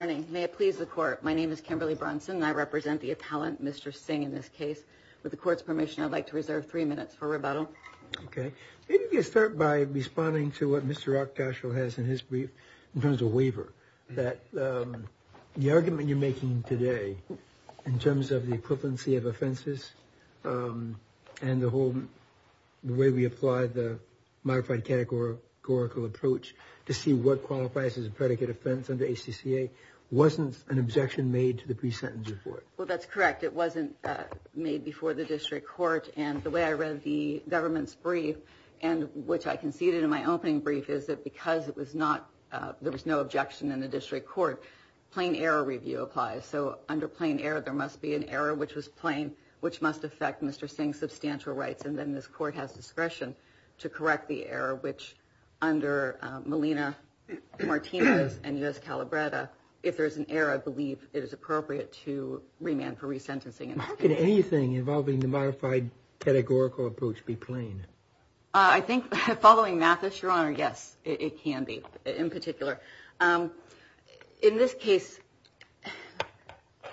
May it please the court. My name is Kimberly Bronson. I represent the appellant, Mr. Singh, in this case. With the court's permission, I'd like to reserve three minutes for rebuttal. OK. Maybe we can start by responding to what Mr. Rakdashal has in his brief in terms of waiver, that the argument you're making today in terms of the equivalency of offenses and the whole way we apply the modified categorical approach to see what qualifies as a predicate offense under ACCA. Wasn't an objection made to the pre-sentence report? Well, that's correct. It wasn't made before the district court. And the way I read the government's brief, and which I conceded in my opening brief, is that because it was not there was no objection in the district court, plain error review applies. So under plain error, there must be an error which was plain, which must affect Mr. Singh's substantial rights. And then this court has discretion to correct the error, which under Molina-Martinez and U.S. Calabretta, if there is an error, I believe it is appropriate to remand for resentencing. Could anything involving the modified categorical approach be plain? I think, following Mathis, Your Honor, yes, it can be, in particular. In this case,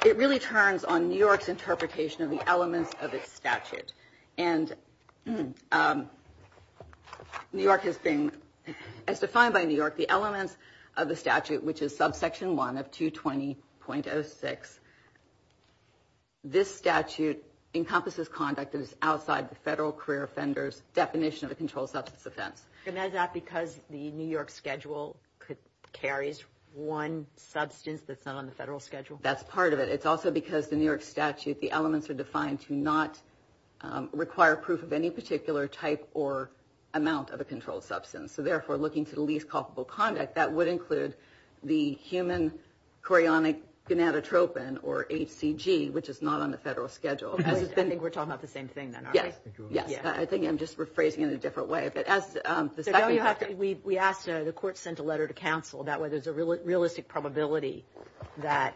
it really turns on New York's interpretation of the elements of its statute. And New York has been, as defined by New York, the elements of the statute, which is subsection 1 of 220.06. This statute encompasses conduct that is outside the federal career offender's definition of a controlled substance offense. And is that because the New York schedule carries one substance that's not on the federal schedule? That's part of it. It's also because the New York statute, the elements are defined to not require proof of any particular type or amount of a controlled substance. So therefore, looking to the least culpable conduct, that would include the human chorionic gonadotropin, or HCG, which is not on the federal schedule. I think we're talking about the same thing then, aren't we? Yes. I think I'm just rephrasing it in a different way. We asked, the court sent a letter to counsel, that way there's a realistic probability that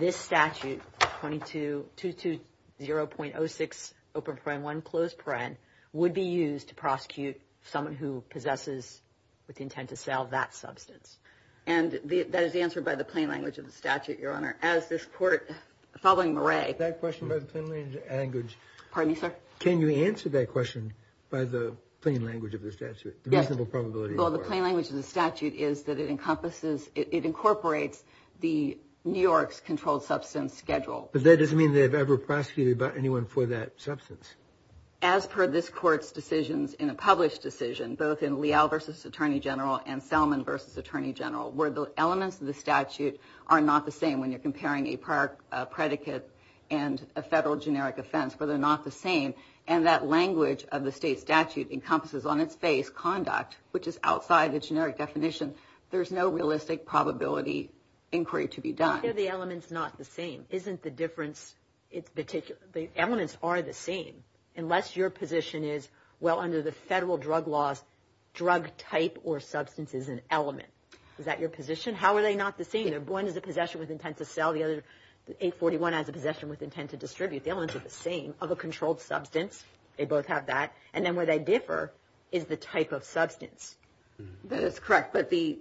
this statute, 220.06, open paren, one closed paren, would be used to prosecute someone who possesses with the intent to sell that substance. And that is answered by the plain language of the statute, Your Honor, as this court, following Murray. Pardon me, sir? Can you answer that question by the plain language of the statute? Yes. The reasonable probability. Well, the plain language of the statute is that it incorporates the New York's controlled substance schedule. But that doesn't mean they've ever prosecuted anyone for that substance. As per this court's decisions in a published decision, both in Leal v. Attorney General and Selman v. Attorney General, where the elements of the statute are not the same when you're comparing a prior predicate and a federal generic offense, but they're not the same. And that language of the state statute encompasses on its face conduct, which is outside the generic definition. There's no realistic probability inquiry to be done. Why are the elements not the same? Isn't the difference particular? The elements are the same. Unless your position is, well, under the federal drug laws, drug type or substance is an element. Is that your position? How are they not the same? One is a possession with intent to sell. The other, 841, has a possession with intent to distribute. The elements are the same. Of a controlled substance, they both have that. And then where they differ is the type of substance. That is correct. But the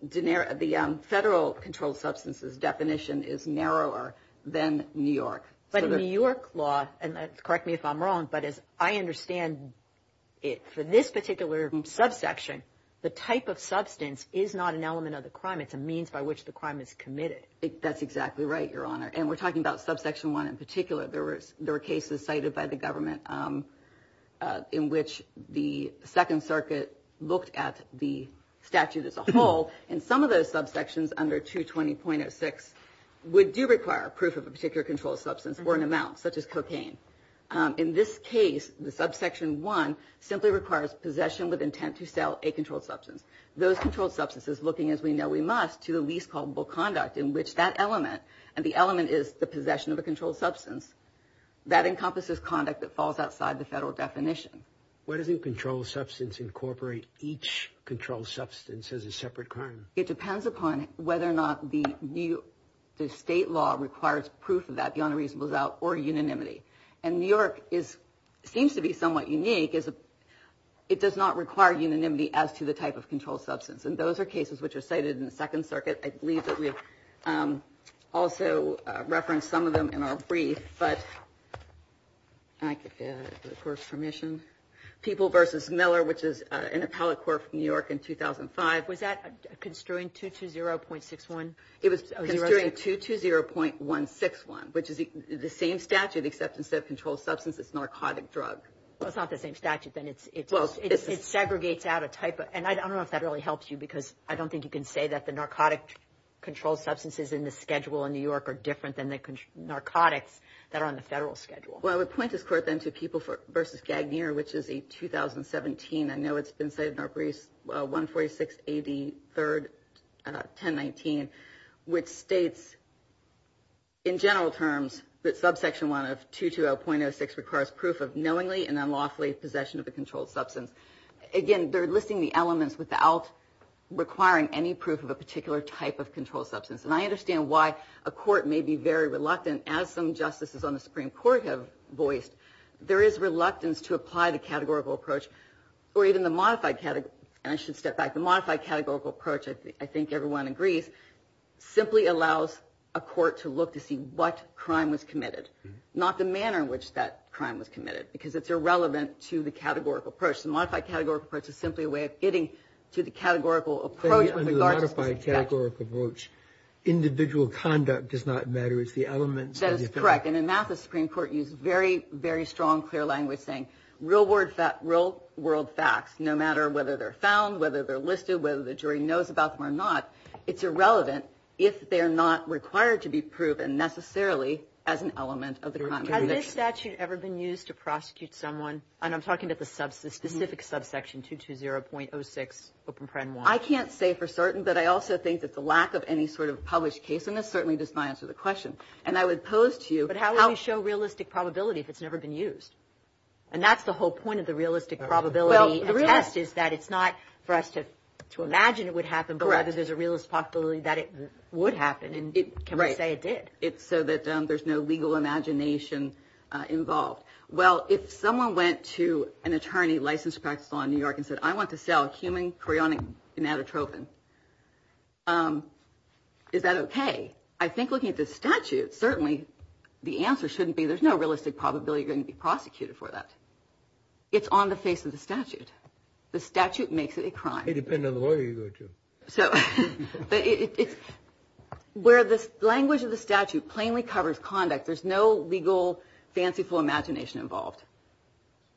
federal controlled substance's definition is narrower than New York. But in New York law, and correct me if I'm wrong, but as I understand it, for this particular subsection, the type of substance is not an element of the crime. It's a means by which the crime is committed. That's exactly right, Your Honor. And we're talking about subsection 1 in particular. There were cases cited by the government in which the Second Circuit looked at the statute as a whole. And some of those subsections under 220.06 would do require proof of a particular controlled substance or an amount, such as cocaine. In this case, the subsection 1 simply requires possession with intent to sell a controlled substance. Those controlled substances looking, as we know we must, to the least culpable conduct in which that element, and the element is the possession of a controlled substance, that encompasses conduct that falls outside the federal definition. Why doesn't controlled substance incorporate each controlled substance as a separate crime? It depends upon whether or not the state law requires proof of that, the unreasonable doubt, or unanimity. And New York seems to be somewhat unique. It does not require unanimity as to the type of controlled substance. And those are cases which are cited in the Second Circuit. I believe that we also referenced some of them in our brief. But if I could get the Court's permission. People v. Miller, which is an appellate court from New York in 2005. Was that construing 220.61? It was construing 220.161, which is the same statute, except instead of controlled substance, it's narcotic drug. Well, it's not the same statute, then. It segregates out a type. And I don't know if that really helps you, because I don't think you can say that the narcotic controlled substances in the schedule in New York are different than the narcotics that are on the federal schedule. Well, I would point this Court, then, to People v. Gagner, which is a 2017. I know it's been cited in our brief, 146 AD 3rd, 1019, which states, in general terms, that subsection 1 of 220.06 requires proof of knowingly and unlawfully possession of a controlled substance. Again, they're listing the elements without requiring any proof of a particular type of controlled substance. And I understand why a court may be very reluctant, as some justices on the Supreme Court have voiced. There is reluctance to apply the categorical approach. Or even the modified category. And I should step back. The modified categorical approach, I think everyone agrees, simply allows a court to look to see what crime was committed, not the manner in which that crime was committed, because it's irrelevant to the categorical approach. The modified categorical approach is simply a way of getting to the categorical approach. But even the modified categorical approach, individual conduct does not matter. It's the elements. That is correct. And in that, the Supreme Court used very, very strong, clear language saying, real world facts, no matter whether they're found, whether they're listed, whether the jury knows about them or not, it's irrelevant if they're not required to be proven necessarily as an element of the crime. Has this statute ever been used to prosecute someone? And I'm talking about the specific subsection 220.06. I can't say for certain, but I also think that the lack of any sort of published case in this certainly does not answer the question. And I would pose to you. But how do you show realistic probability if it's never been used? And that's the whole point of the realistic probability test is that it's not for us to imagine it would happen, but whether there's a realistic probability that it would happen. And can we say it did? It's so that there's no legal imagination involved. Well, if someone went to an attorney licensed to practice law in New York and said, I want to sell a human cryonic anatotrophin, is that OK? I think looking at the statute, certainly the answer shouldn't be there's no realistic probability going to be prosecuted for that. It's on the face of the statute. The statute makes it a crime. It depends on the lawyer you go to. So where this language of the statute plainly covers conduct, there's no legal, fanciful imagination involved.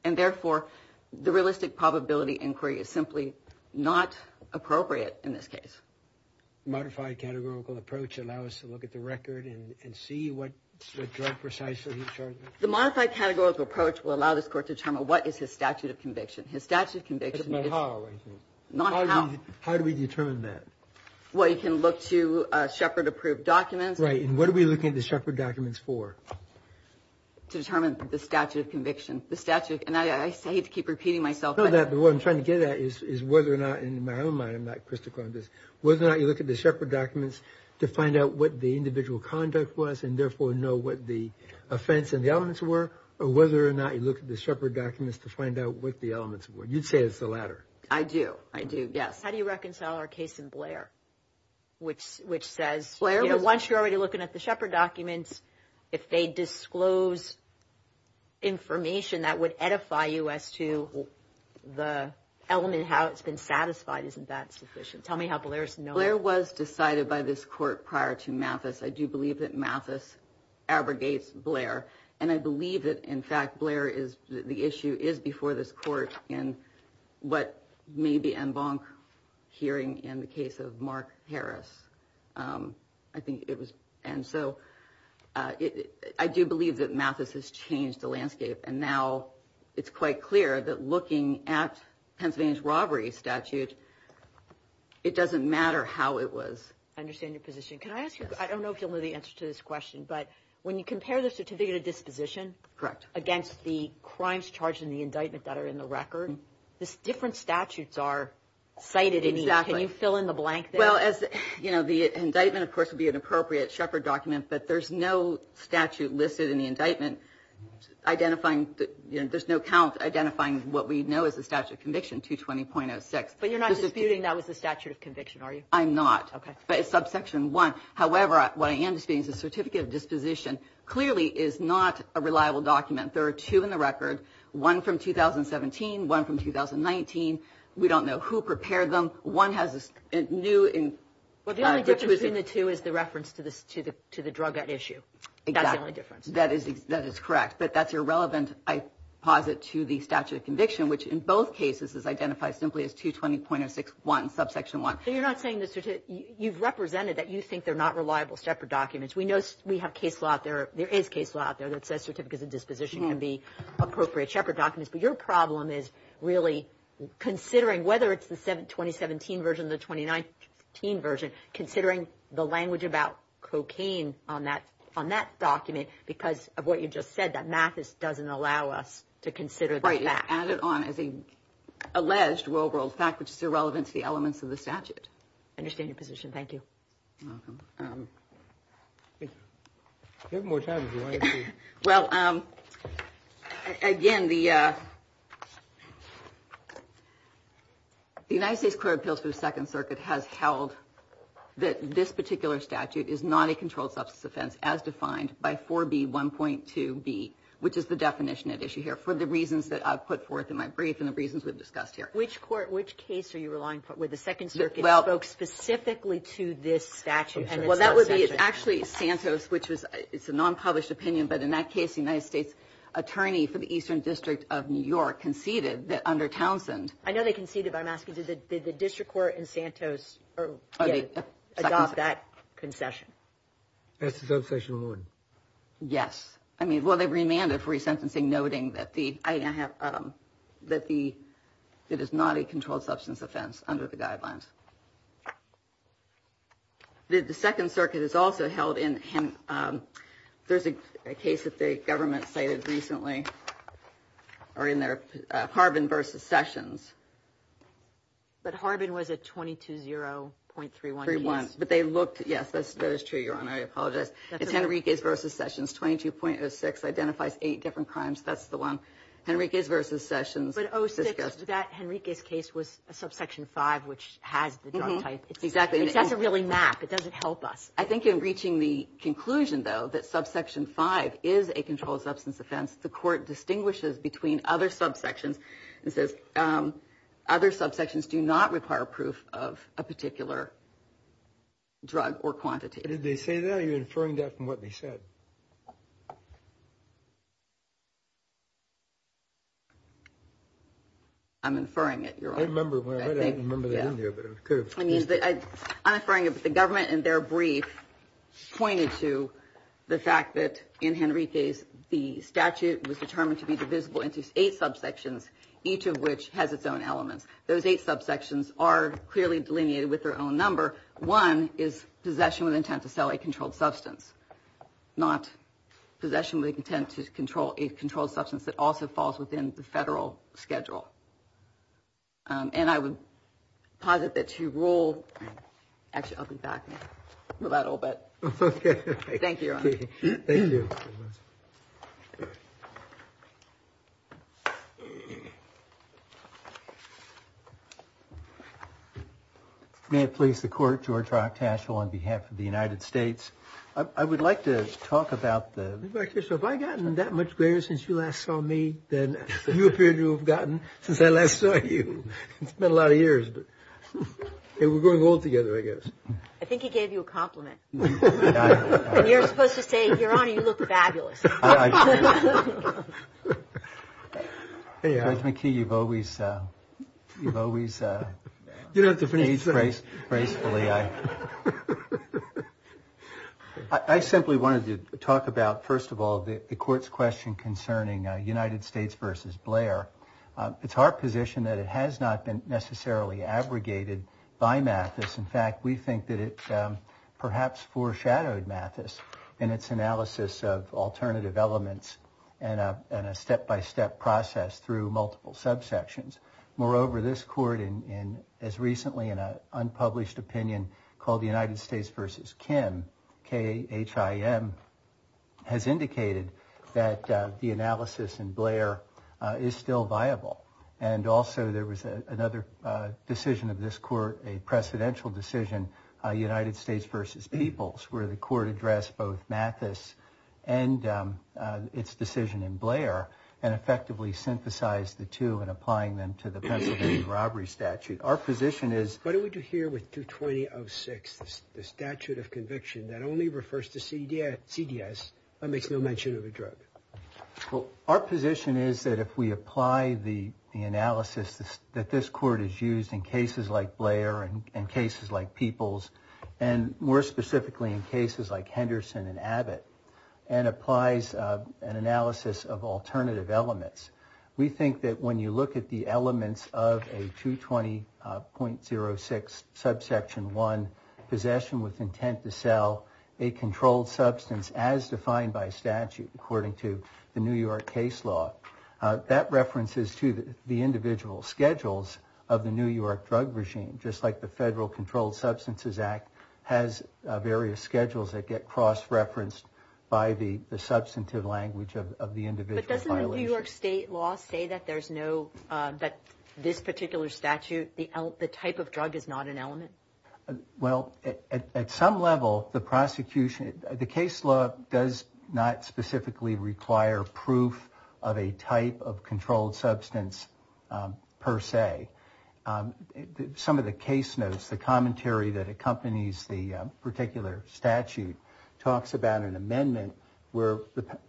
And therefore, the realistic probability inquiry is simply not appropriate in this case. Modified categorical approach allow us to look at the record and see what precisely the modified categorical approach will allow this court to determine what is his statute of conviction. How do we determine that? Well, you can look to Shepard approved documents. Right. And what are we looking at the Shepard documents for? To determine the statute of conviction, the statute. And I hate to keep repeating myself. But what I'm trying to get at is whether or not in my own mind, I'm not critical of this, whether or not you look at the Shepard documents to find out what the individual conduct was and therefore know what the offense and the elements were or whether or not you look at the Shepard documents to find out what the elements were. You'd say it's the latter. I do. I do. Yes. How do you reconcile our case in Blair? Which says once you're already looking at the Shepard documents, if they disclose information that would edify you as to the element, how it's been satisfied, isn't that sufficient? Tell me how Blair's known. Blair was decided by this court prior to Mathis. I do believe that Mathis abrogates Blair. And I believe that, in fact, Blair is the issue is before this court. And what maybe Embank hearing in the case of Mark Harris, I think it was. And so I do believe that Mathis has changed the landscape. And now it's quite clear that looking at Pennsylvania's robbery statute, it doesn't matter how it was. I understand your position. Can I ask you, I don't know if you'll know the answer to this question, but when you compare the certificate of disposition. Correct. Against the crimes charged in the indictment that are in the record, this different statutes are cited. Exactly. Can you fill in the blank there? Well, as you know, the indictment, of course, would be an appropriate Shepard document, but there's no statute listed in the indictment identifying. There's no count identifying what we know is the statute of conviction 220.06. But you're not disputing that was the statute of conviction, are you? I'm not. But it's subsection one. However, what I am disputing is the certificate of disposition clearly is not a reliable document. There are two in the record, one from 2017, one from 2019. We don't know who prepared them. One has a new. Well, the only difference between the two is the reference to the drug at issue. Exactly. That's the only difference. That is correct. But that's irrelevant, I posit, to the statute of conviction, which in both cases is identified simply as 220.061, subsection one. So you're not saying you've represented that you think they're not reliable Shepard documents. We know we have case law out there. There is case law out there that says certificates of disposition can be appropriate Shepard documents. But your problem is really considering whether it's the 2017 version or the 2019 version, considering the language about cocaine on that document because of what you just said, that Mathis doesn't allow us to consider that fact. Add it on as a alleged real world fact, which is irrelevant to the elements of the statute. Understand your position. Thank you. You have more time. Well, again, the. The United States Court of Appeals for the Second Circuit has held that this particular statute is not a controlled substance offense, as defined by 4B1.2B, which is the definition at issue here for the reasons that I've put forth in my brief and the reasons we've discussed here. Which court, which case are you relying with? The Second Circuit spoke specifically to this statute. Well, that would be actually Santos, which was it's a non-published opinion. But in that case, the United States attorney for the Eastern District of New York conceded that under Townsend. I know they conceded. I'm asking, did the district court in Santos adopt that concession? That's the obsession. Yes. I mean, well, they remanded free sentencing, noting that the I have that the that is not a controlled substance offense under the guidelines. The Second Circuit is also held in. There's a case that the government cited recently or in their Harbin versus sessions. But Harbin was a twenty two zero point three one three one. But they looked. Yes, that is true, Your Honor. I apologize. It's Henry case versus sessions. Twenty two point six identifies eight different crimes. That's the one Henry case versus sessions. Oh, so that Henry case case was a subsection five, which has the type. Exactly. That's a really map. It doesn't help us. I think in reaching the conclusion, though, that subsection five is a controlled substance offense. The court distinguishes between other subsections and says other subsections do not require proof of a particular drug or quantity. Did they say that you're inferring that from what they said? I'm inferring it. I remember when I remember that. I mean, I'm afraid of the government and their brief pointed to the fact that in Henry case, the statute was determined to be divisible into eight subsections, each of which has its own elements. Those eight subsections are clearly delineated with their own number. One is possession with intent to sell a controlled substance, not possession. to control a controlled substance that also falls within the federal schedule. And I would posit that you rule. Actually, I'll be back in a little bit. OK, thank you. Thank you. May it please the court. George Rock Tashel on behalf of the United States. I would like to talk about the back. So have I gotten that much greater since you last saw me? Then you appear to have gotten since I last saw you. It's been a lot of years. We're going all together, I guess. I think he gave you a compliment. And you're supposed to say, Your Honor, you look fabulous. Hey, Mickey, you've always, you've always, you know, the phrase gracefully. I simply wanted to talk about, first of all, the court's question concerning United States versus Blair. It's our position that it has not been necessarily abrogated by math. In fact, we think that it perhaps foreshadowed Mathis in its analysis of alternative elements and a step by step process through multiple subsections. Moreover, this court in as recently in an unpublished opinion called the United States versus Kim K. H. I. M. has indicated that the analysis and Blair is still viable. And also there was another decision of this court, a precedential decision, United States versus peoples, where the court addressed both Mathis and its decision in Blair and effectively synthesized the two and applying them to the robbery statute. Our position is, what do we do here with 220 of six? The statute of conviction that only refers to C.D.C.S. makes no mention of a drug. Our position is that if we apply the analysis that this court is used in cases like Blair and cases like peoples, and more specifically in cases like Henderson and Abbott and applies an analysis of alternative elements, we think that when you look at the elements of a 220 point zero six subsection, one possession with intent to sell a controlled substance as defined by statute, according to the New York case law, that references to the individual schedules of the New York drug regime, just like the Federal Controlled Substances Act has various schedules that get cross referenced by the substantive language of the individual. But doesn't the New York state law say that there's no, that this particular statute, the type of drug is not an element? Well, at some level, the prosecution, the case law does not specifically require proof of a type of controlled substance per se. Some of the case notes, the commentary that accompanies the particular statute, talks about an amendment where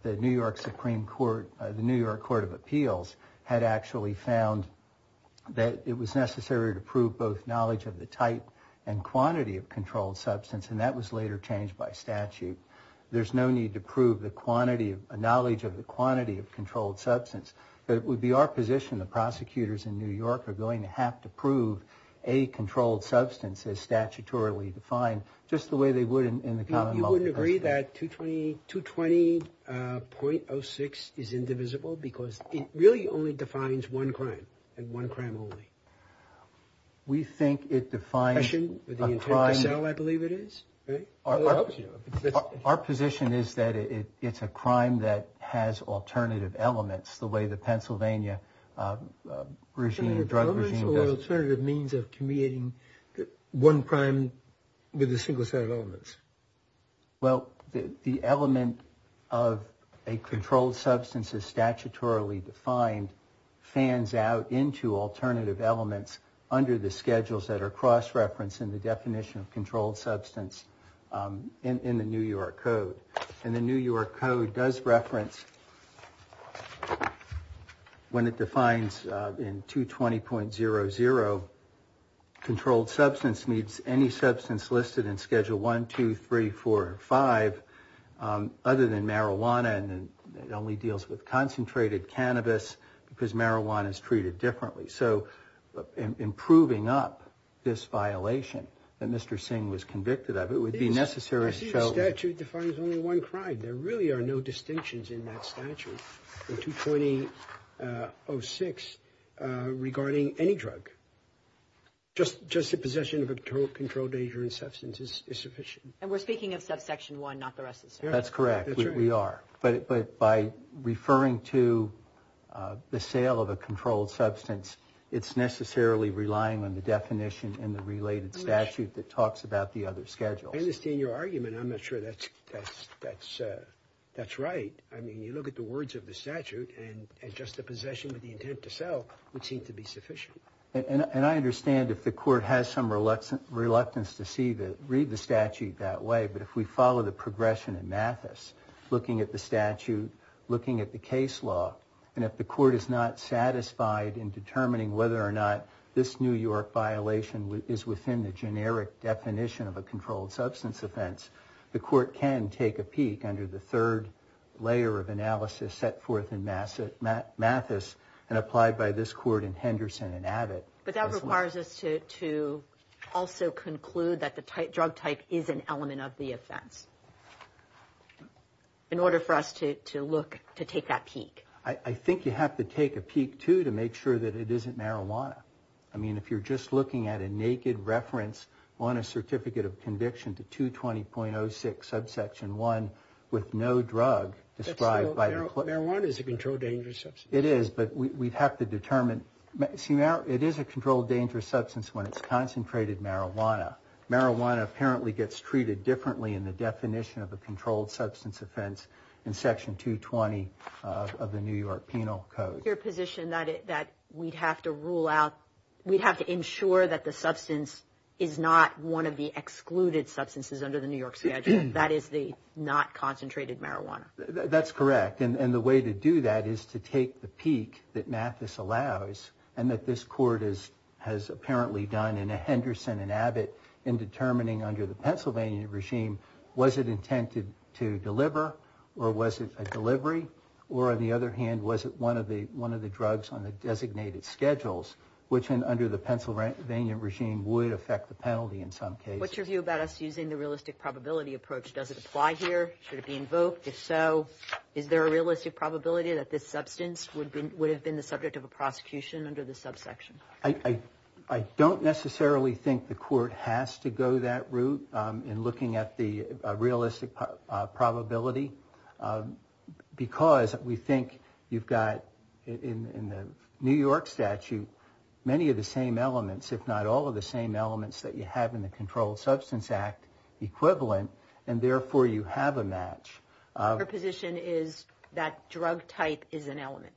the New York Supreme Court, the New York Court of Appeals, had actually found that it was necessary to prove both knowledge of the type and quantity of controlled substance, and that was later changed by statute. There's no need to prove the knowledge of the quantity of controlled substance, but it would be our position the prosecutors in New York are going to have to prove a controlled substance as statutorily defined, just the way they would in the common law. You wouldn't agree that 220.06 is indivisible? Because it really only defines one crime, and one crime only. We think it defines a crime. I believe it is. Our position is that it's a crime that has alternative elements, the way the Pennsylvania drug regime does it. There are alternative means of communicating one crime with a single set of elements. Well, the element of a controlled substance is statutorily defined, fans out into alternative elements under the schedules that are cross-referenced in the definition of controlled substance in the New York Code. And the New York Code does reference, when it defines in 220.00, controlled substance meets any substance listed in schedule 1, 2, 3, 4, 5, other than marijuana, and it only deals with concentrated cannabis because marijuana is treated differently. So in proving up this violation that Mr. Singh was convicted of, it would be necessary to show... It's only one crime. There really are no distinctions in that statute, in 220.06, regarding any drug. Just the possession of a controlled agent or substance is sufficient. And we're speaking of subsection 1, not the rest of the statute. That's correct. We are. But by referring to the sale of a controlled substance, it's necessarily relying on the definition in the related statute that talks about the other schedules. I understand your argument. I'm not sure that's right. I mean, you look at the words of the statute, and just the possession with the intent to sell would seem to be sufficient. And I understand if the court has some reluctance to read the statute that way, but if we follow the progression in Mathis, looking at the statute, looking at the case law, and if the court is not satisfied in determining whether or not this New York violation is within the generic definition of a controlled substance offense, the court can take a peek under the third layer of analysis set forth in Mathis and applied by this court in Henderson and Abbott. But that requires us to also conclude that the drug type is an element of the offense, in order for us to look to take that peek. I think you have to take a peek, too, to make sure that it isn't marijuana. I mean, if you're just looking at a naked reference on a certificate of conviction to 220.06, subsection 1, with no drug described by the court. Marijuana is a controlled dangerous substance. It is, but we have to determine. See, it is a controlled dangerous substance when it's concentrated marijuana. Marijuana apparently gets treated differently in the definition of a controlled substance offense in section 220 of the New York Penal Code. Is it your position that we'd have to rule out, we'd have to ensure that the substance is not one of the excluded substances under the New York schedule, that is the not concentrated marijuana? That's correct, and the way to do that is to take the peek that Mathis allows and that this court has apparently done in Henderson and Abbott in determining under the Pennsylvania regime, was it intended to deliver or was it a delivery? Or on the other hand, was it one of the drugs on the designated schedules, which under the Pennsylvania regime would affect the penalty in some cases? What's your view about us using the realistic probability approach? Does it apply here? Should it be invoked? If so, is there a realistic probability that this substance would have been the subject of a prosecution under the subsection? I don't necessarily think the court has to go that route in looking at the realistic probability because we think you've got in the New York statute many of the same elements, if not all of the same elements that you have in the Controlled Substance Act equivalent and therefore you have a match. Your position is that drug type is an element?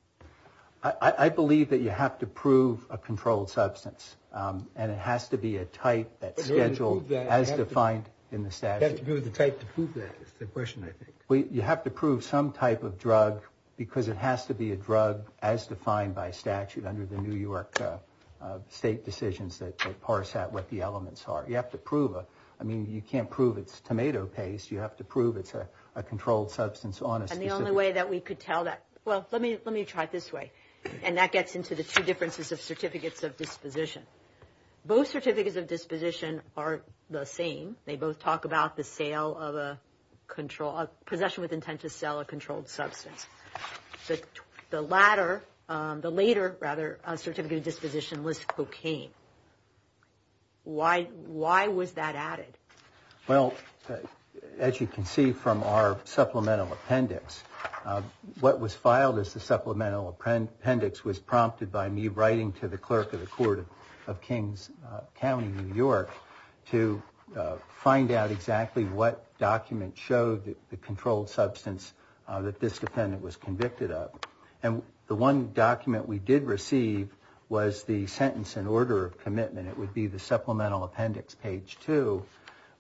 I believe that you have to prove a controlled substance and it has to be a type that's scheduled as defined in the statute. You have to prove the type to prove that is the question, I think. You have to prove some type of drug because it has to be a drug as defined by statute under the New York state decisions that parse out what the elements are. You have to prove it. I mean, you can't prove it's tomato paste. You have to prove it's a controlled substance on a specific... And the only way that we could tell that, well, let me try it this way, and that gets into the two differences of certificates of disposition. Both certificates of disposition are the same. They both talk about the sale of a control... possession with intent to sell a controlled substance. The latter, the later, rather, certificate of disposition was cocaine. Why was that added? Well, as you can see from our supplemental appendix, what was filed as the supplemental appendix was prompted by me writing to the clerk of the court of Kings County, New York, to find out exactly what document showed the controlled substance that this defendant was convicted of. And the one document we did receive was the sentence in order of commitment. It would be the supplemental appendix, page 2,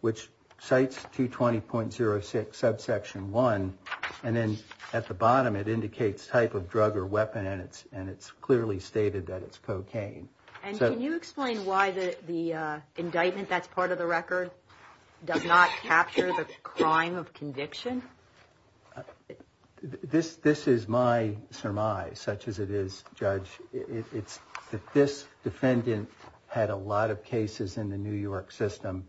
which cites 220.06, subsection 1, and then at the bottom it indicates type of drug or weapon, and it's clearly stated that it's cocaine. And can you explain why the indictment that's part of the record does not capture the crime of conviction? This is my surmise, such as it is, Judge. It's that this defendant had a lot of cases in the New York system.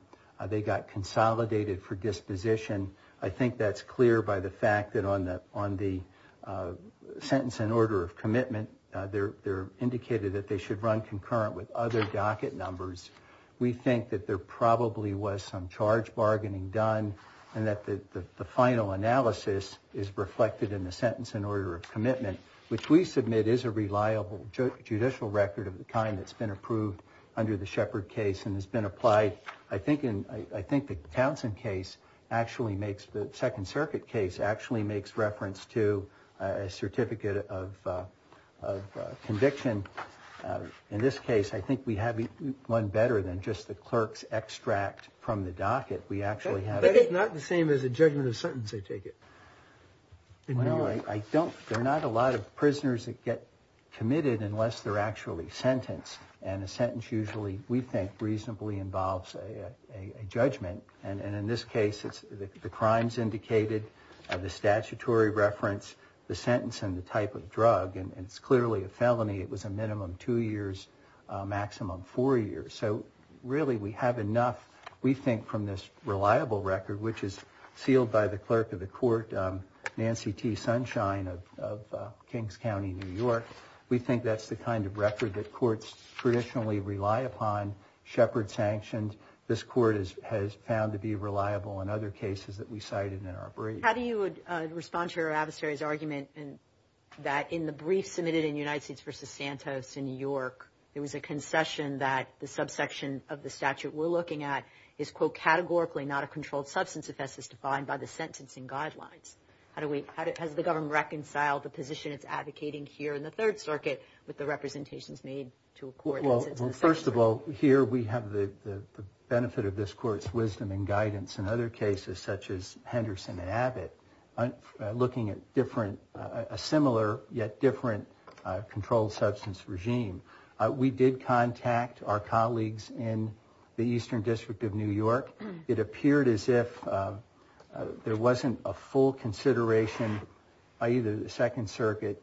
They got consolidated for disposition. And I think that's clear by the fact that on the sentence in order of commitment, they're indicated that they should run concurrent with other docket numbers. We think that there probably was some charge bargaining done and that the final analysis is reflected in the sentence in order of commitment, which we submit is a reliable judicial record of the kind that's been approved under the Shepard case and has been applied, I think, the Townsend case actually makes, the Second Circuit case, actually makes reference to a certificate of conviction. In this case, I think we have one better than just the clerk's extract from the docket. We actually have a... But it's not the same as a judgment of sentence, I take it, in New York? No, I don't. There are not a lot of prisoners that get committed unless they're actually sentenced, and a sentence usually, we think, reasonably involves a judgment. And in this case, it's the crimes indicated, the statutory reference, the sentence, and the type of drug. And it's clearly a felony. It was a minimum two years, maximum four years. So really we have enough, we think, from this reliable record, which is sealed by the clerk of the court, Nancy T. Sunshine of Kings County, New York. We think that's the kind of record that courts traditionally rely upon, Shepard-sanctioned. This court has found to be reliable in other cases that we cited in our brief. How do you respond to your adversary's argument that in the brief submitted in United States v. Santos in New York, there was a concession that the subsection of the statute we're looking at is, quote, categorically not a controlled substance offense as defined by the sentencing guidelines? Has the government reconciled the position it's advocating here in the Third Circuit with the representations made to a court? Well, first of all, here we have the benefit of this court's wisdom and guidance in other cases, such as Henderson and Abbott, looking at a similar yet different controlled substance regime. We did contact our colleagues in the Eastern District of New York. It appeared as if there wasn't a full consideration, i.e., the Second Circuit,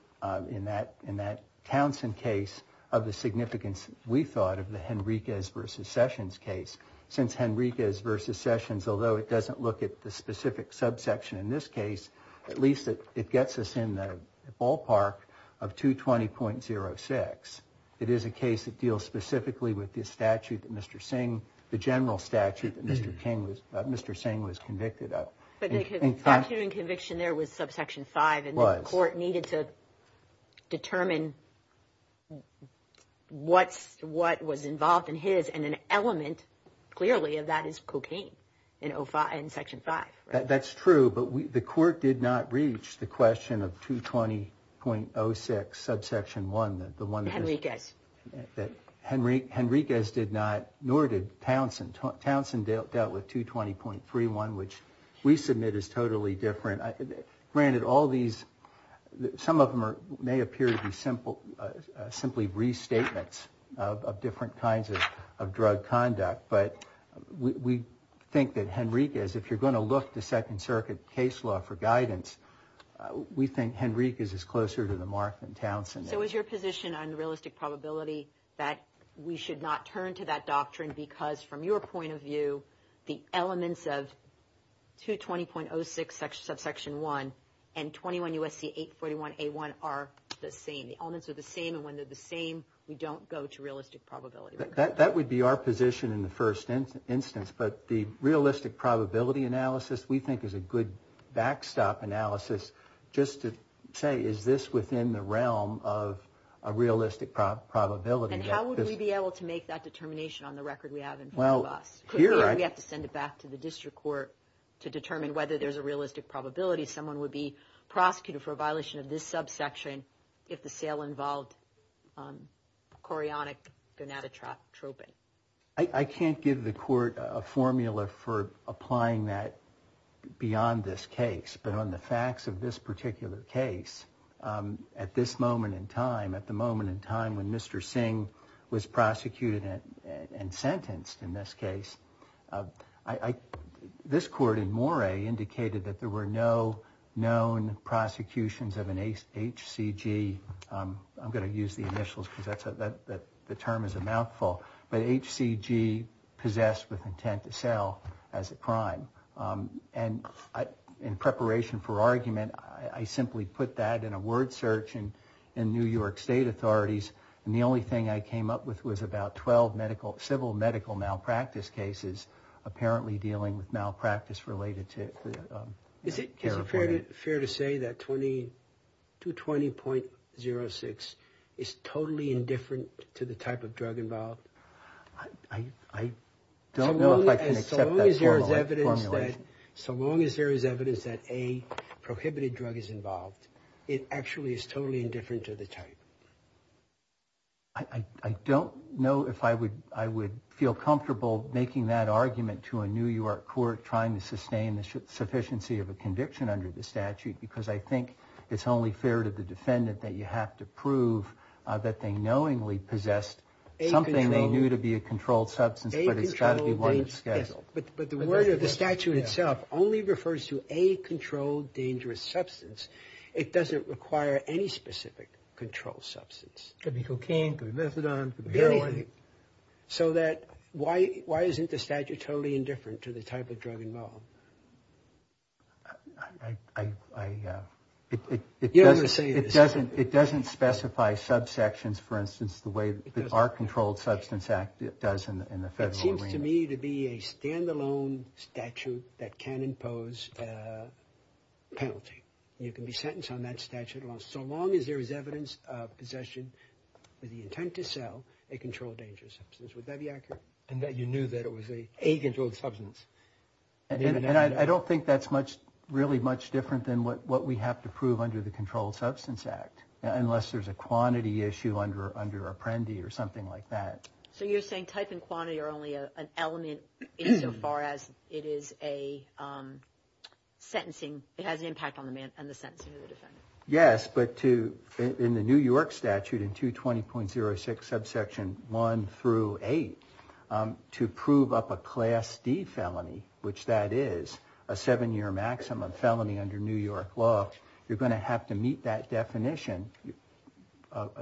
in that Townsend case of the significance, we thought, of the Henriquez v. Sessions case. Since Henriquez v. Sessions, although it doesn't look at the specific subsection in this case, at least it gets us in the ballpark of 220.06. It is a case that deals specifically with this statute that Mr. Singh, the general statute that Mr. Singh was convicted of. But the statute in conviction there was subsection 5. It was. And the court needed to determine what was involved in his, and an element, clearly, of that is cocaine in section 5. That's true, but the court did not reach the question of 220.06, subsection 1. Henriquez. Henriquez did not, nor did Townsend. Townsend dealt with 220.31, which we submit is totally different. Granted, some of them may appear to be simply restatements of different kinds of drug conduct, but we think that Henriquez, if you're going to look to Second Circuit case law for guidance, we think Henriquez is closer to the mark than Townsend is. So is your position on realistic probability that we should not turn to that doctrine because, from your point of view, the elements of 220.06, subsection 1, and 21 U.S.C. 841A1 are the same? The elements are the same, and when they're the same, we don't go to realistic probability. That would be our position in the first instance, but the realistic probability analysis we think is a good backstop analysis just to say, is this within the realm of a realistic probability? And how would we be able to make that determination on the record we have in front of us? We have to send it back to the district court to determine whether there's a realistic probability someone would be prosecuted for a violation of this subsection if the sale involved chorionic gonadotropin. I can't give the court a formula for applying that beyond this case, but on the facts of this particular case, at this moment in time, at the moment in time when Mr. Singh was prosecuted and sentenced in this case, this court in Moray indicated that there were no known prosecutions of an HCG. I'm going to use the initials because the term is a mouthful, but HCG possessed with intent to sell as a crime. And in preparation for argument, I simply put that in a word search in New York State authorities, and the only thing I came up with was about 12 civil medical malpractice cases apparently dealing with malpractice related to heroin. Is it fair to say that 220.06 is totally indifferent to the type of drug involved? I don't know if I can accept that formula. So long as there is evidence that a prohibited drug is involved, it actually is totally indifferent to the type. I don't know if I would I would feel comfortable making that argument to a New York court trying to sustain the sufficiency of a conviction under the statute, because I think it's only fair to the defendant that you have to prove that they knowingly possessed something they knew to be a controlled substance, but it's got to be one that's scheduled. But the word of the statute itself only refers to a controlled, dangerous substance. It doesn't require any specific control substance. Could be cocaine, could be methadone, could be heroin. So that why isn't the statute totally indifferent to the type of drug involved? It doesn't specify subsections, for instance, the way that our Controlled Substance Act does in the federal arena. It seems to me to be a standalone statute that can impose a penalty. You can be sentenced on that statute as long as there is evidence of possession with the intent to sell a controlled, dangerous substance. Would that be accurate? And that you knew that it was a controlled substance. And I don't think that's much, really much different than what we have to prove under the Controlled Substance Act, unless there's a quantity issue under Apprendi or something like that. So you're saying type and quantity are only an element insofar as it is a sentencing. It has an impact on the man and the sentencing of the defendant. Yes, but in the New York statute in 220.06, subsection one through eight, to prove up a class D felony, which that is a seven year maximum felony under New York law, you're going to have to meet that definition.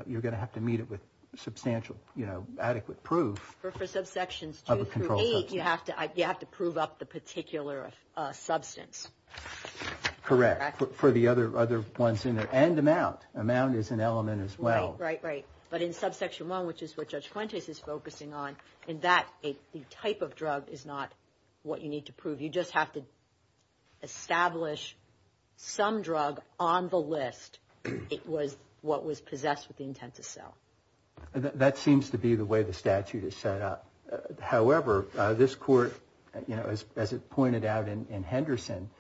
You're going to have to meet it with substantial, you know, adequate proof. For subsections two through eight, you have to prove up the particular substance. Correct, for the other ones in there and amount. Amount is an element as well. Right, right, right. But in subsection one, which is what Judge Fuentes is focusing on, in that the type of drug is not what you need to prove. You just have to establish some drug on the list. It was what was possessed with the intent to sell. That seems to be the way the statute is set up. However, this court, you know, as it pointed out in Henderson,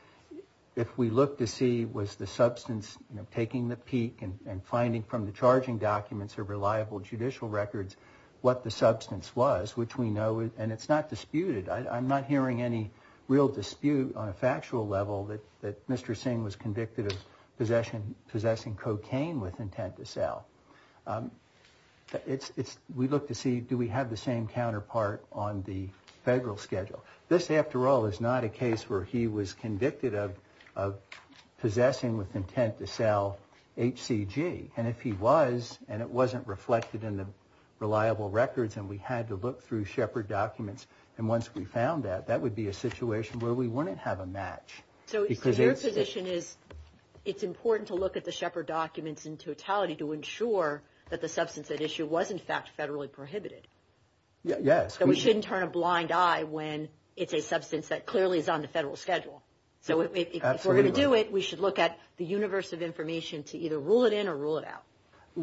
if we look to see was the substance taking the peak and finding from the charging documents or reliable judicial records what the substance was, which we know, and it's not disputed, I'm not hearing any real dispute on a factual level that Mr. Singh was convicted of possessing cocaine with intent to sell. We look to see do we have the same counterpart on the federal schedule. This, after all, is not a case where he was convicted of possessing with intent to sell HCG. And if he was and it wasn't reflected in the reliable records and we had to look through Shepard documents and once we found that, that would be a situation where we wouldn't have a match. So your position is it's important to look at the Shepard documents in totality to ensure that the substance at issue was in fact federally prohibited. Yes. So we shouldn't turn a blind eye when it's a substance that clearly is on the federal schedule. So if we're going to do it, we should look at the universe of information to either rule it in or rule it out.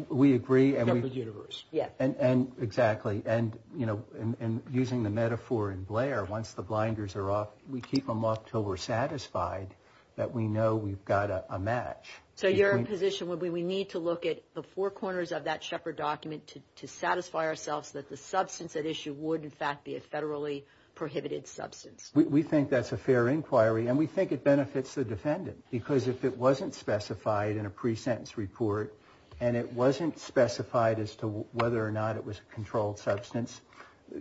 We agree. From the universe. Yeah. And exactly. And, you know, and using the metaphor in Blair, once the blinders are off, we keep them off until we're satisfied that we know we've got a match. So your position would be we need to look at the four corners of that Shepard document to satisfy ourselves that the substance at issue would in fact be a federally prohibited substance. We think that's a fair inquiry and we think it benefits the defendant because if it wasn't specified in a pre-sentence report and it wasn't specified as to whether or not it was a controlled substance,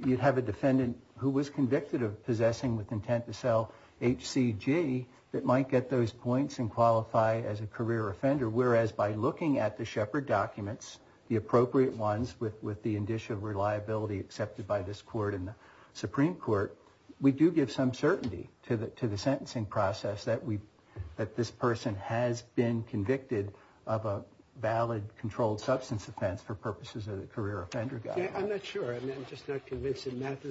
you'd have a defendant who was convicted of possessing with intent to sell HCG that might get those points and qualify as a career offender, whereas by looking at the Shepard documents, the appropriate ones with the indicia of reliability accepted by this court and the Supreme Court, we do give some certainty to the sentencing process that this person has been convicted of a valid controlled substance offense for purposes of the career offender guide. I'm not sure. I'm just not convinced that math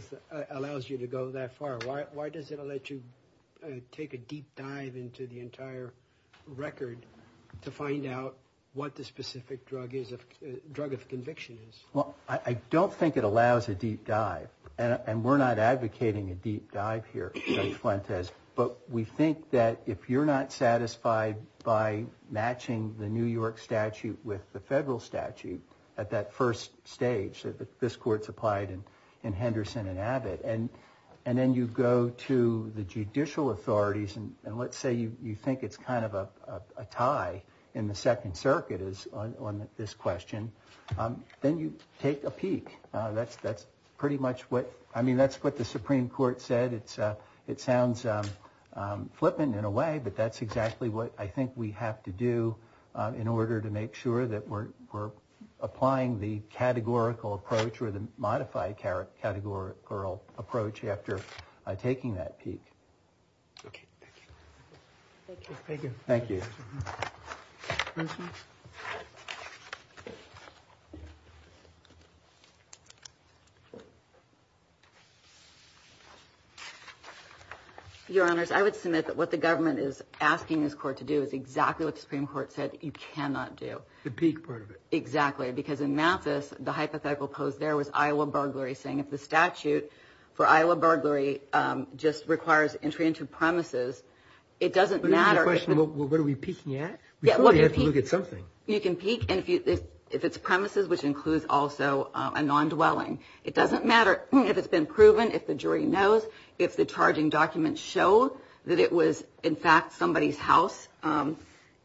allows you to go that far. Why does it let you take a deep dive into the entire record to find out what the specific drug of conviction is? Well, I don't think it allows a deep dive. And we're not advocating a deep dive here, Judge Fuentes, but we think that if you're not satisfied by matching the New York statute with the federal statute at that first stage, that this court's applied in Henderson and Abbott, and then you go to the judicial authorities, and let's say you think it's kind of a tie in the Second Circuit on this question, then you take a peek. That's pretty much what the Supreme Court said. It sounds flippant in a way, but that's exactly what I think we have to do in order to make sure that we're applying the categorical approach or the modified categorical approach after taking that peek. Okay, thank you. Thank you. Thank you. Your Honors, I would submit that what the government is asking this court to do is exactly what the Supreme Court said you cannot do. The peek part of it. Exactly, because in Mathis, the hypothetical pose there was Iowa burglary, saying if the statute for Iowa burglary just requires entry into premises, it doesn't matter. But here's the question. What are we peeking at? We have to look at something. You can peek if it's premises, which includes also a non-dwelling. It doesn't matter if it's been proven, if the jury knows, if the charging documents show that it was, in fact, somebody's house.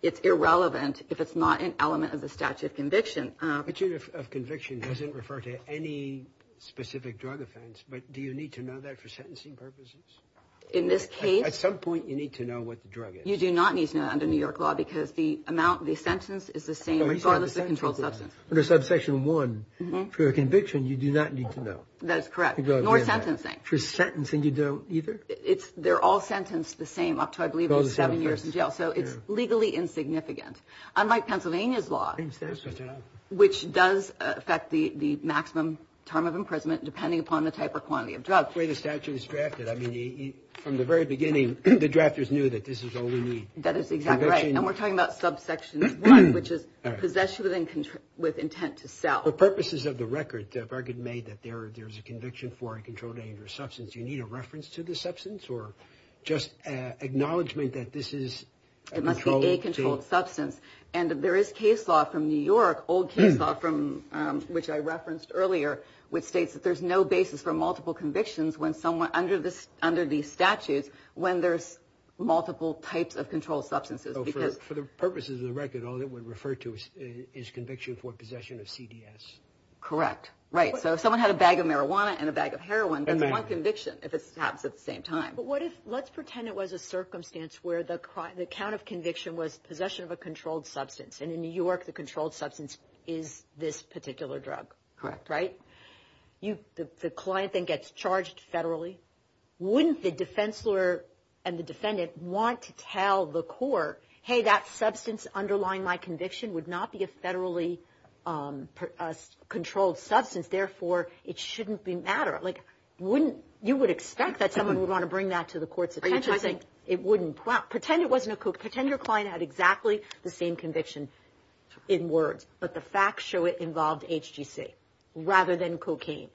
It's irrelevant if it's not an element of the statute of conviction. Statute of conviction doesn't refer to any specific drug offense, but do you need to know that for sentencing purposes? In this case. At some point you need to know what the drug is. You do not need to know that under New York law because the amount, the sentence is the same regardless of controlled substance. Under subsection one, for a conviction, you do not need to know. That is correct, nor sentencing. For sentencing you don't either? They're all sentenced the same up to, I believe, seven years in jail. So it's legally insignificant. Unlike Pennsylvania's law, which does affect the maximum term of imprisonment depending upon the type or quantity of drug. The way the statute is drafted, I mean, from the very beginning, the drafters knew that this is all we need. That is exactly right. And we're talking about subsection one, which is possession with intent to sell. For purposes of the record, Bergen made that there is a conviction for a controlled dangerous substance. Do you need a reference to the substance or just acknowledgement that this is? It must be a controlled substance. And there is case law from New York, old case law, which I referenced earlier, which states that there's no basis for multiple convictions under these statutes when there's multiple types of controlled substances. For the purposes of the record, all it would refer to is conviction for possession of CDS. Correct. Right. So if someone had a bag of marijuana and a bag of heroin, that's one conviction if it happens at the same time. But what if, let's pretend it was a circumstance where the count of conviction was possession of a controlled substance, and in New York the controlled substance is this particular drug. Correct. Right? The client then gets charged federally. Wouldn't the defense lawyer and the defendant want to tell the court, hey, that substance underlying my conviction would not be a federally controlled substance, therefore it shouldn't matter. You would expect that someone would want to bring that to the court's attention. It wouldn't. Pretend your client had exactly the same conviction in words, but the facts show it involved HGC rather than cocaine.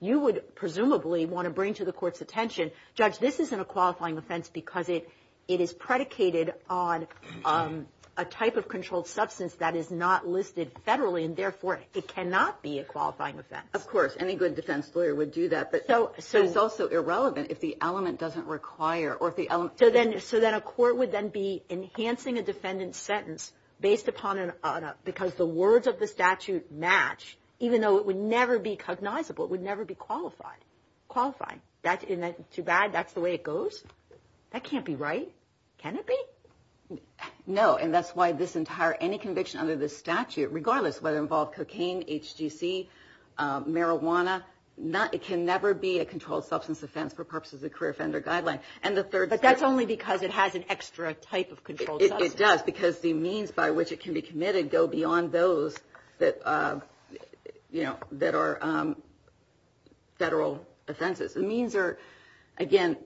You would presumably want to bring to the court's attention, judge, this isn't a qualifying offense because it is predicated on a type of controlled substance that is not listed federally, and therefore it cannot be a qualifying offense. Of course, any good defense lawyer would do that, but it's also irrelevant if the element doesn't require or if the element doesn't. So then a court would then be enhancing a defendant's sentence based upon because the words of the statute match, even though it would never be cognizable, it would never be qualified. That's too bad, that's the way it goes? That can't be right. Can it be? No, and that's why this entire, any conviction under this statute, regardless of whether it involved cocaine, HGC, marijuana, it can never be a controlled substance offense for purposes of the career offender guideline. But that's only because it has an extra type of controlled substance. It does, because the means by which it can be committed go beyond those that are federal offenses. The means are, again,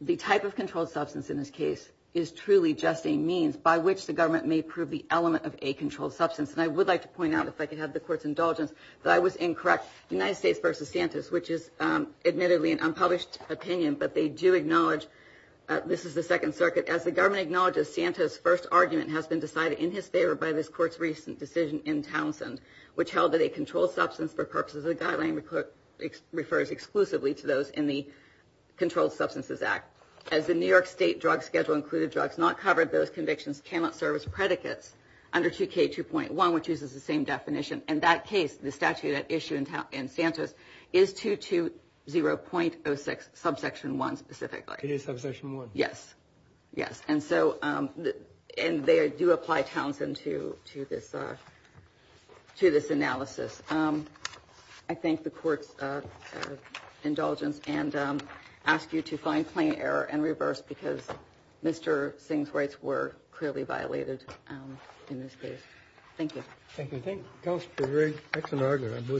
the type of controlled substance in this case is truly just a means by which the government may prove the element of a controlled substance. And I would like to point out, if I could have the Court's indulgence, that I was incorrect. United States v. Santos, which is admittedly an unpublished opinion, but they do acknowledge this is the Second Circuit. As the government acknowledges, Santos' first argument has been decided in his favor by this Court's recent decision in Townsend, which held that a controlled substance for purposes of the guideline refers exclusively to those in the Controlled Substances Act. As the New York State drug schedule included drugs not covered, those convictions cannot serve as predicates under 2K2.1, which uses the same definition. In that case, the statute at issue in Santos is 220.06, subsection 1 specifically. It is subsection 1. Yes. Yes. And they do apply Townsend to this analysis. I thank the Court's indulgence and ask you to find plain error and reverse, because Mr. Singh's rights were clearly violated in this case. Thank you. Thank you.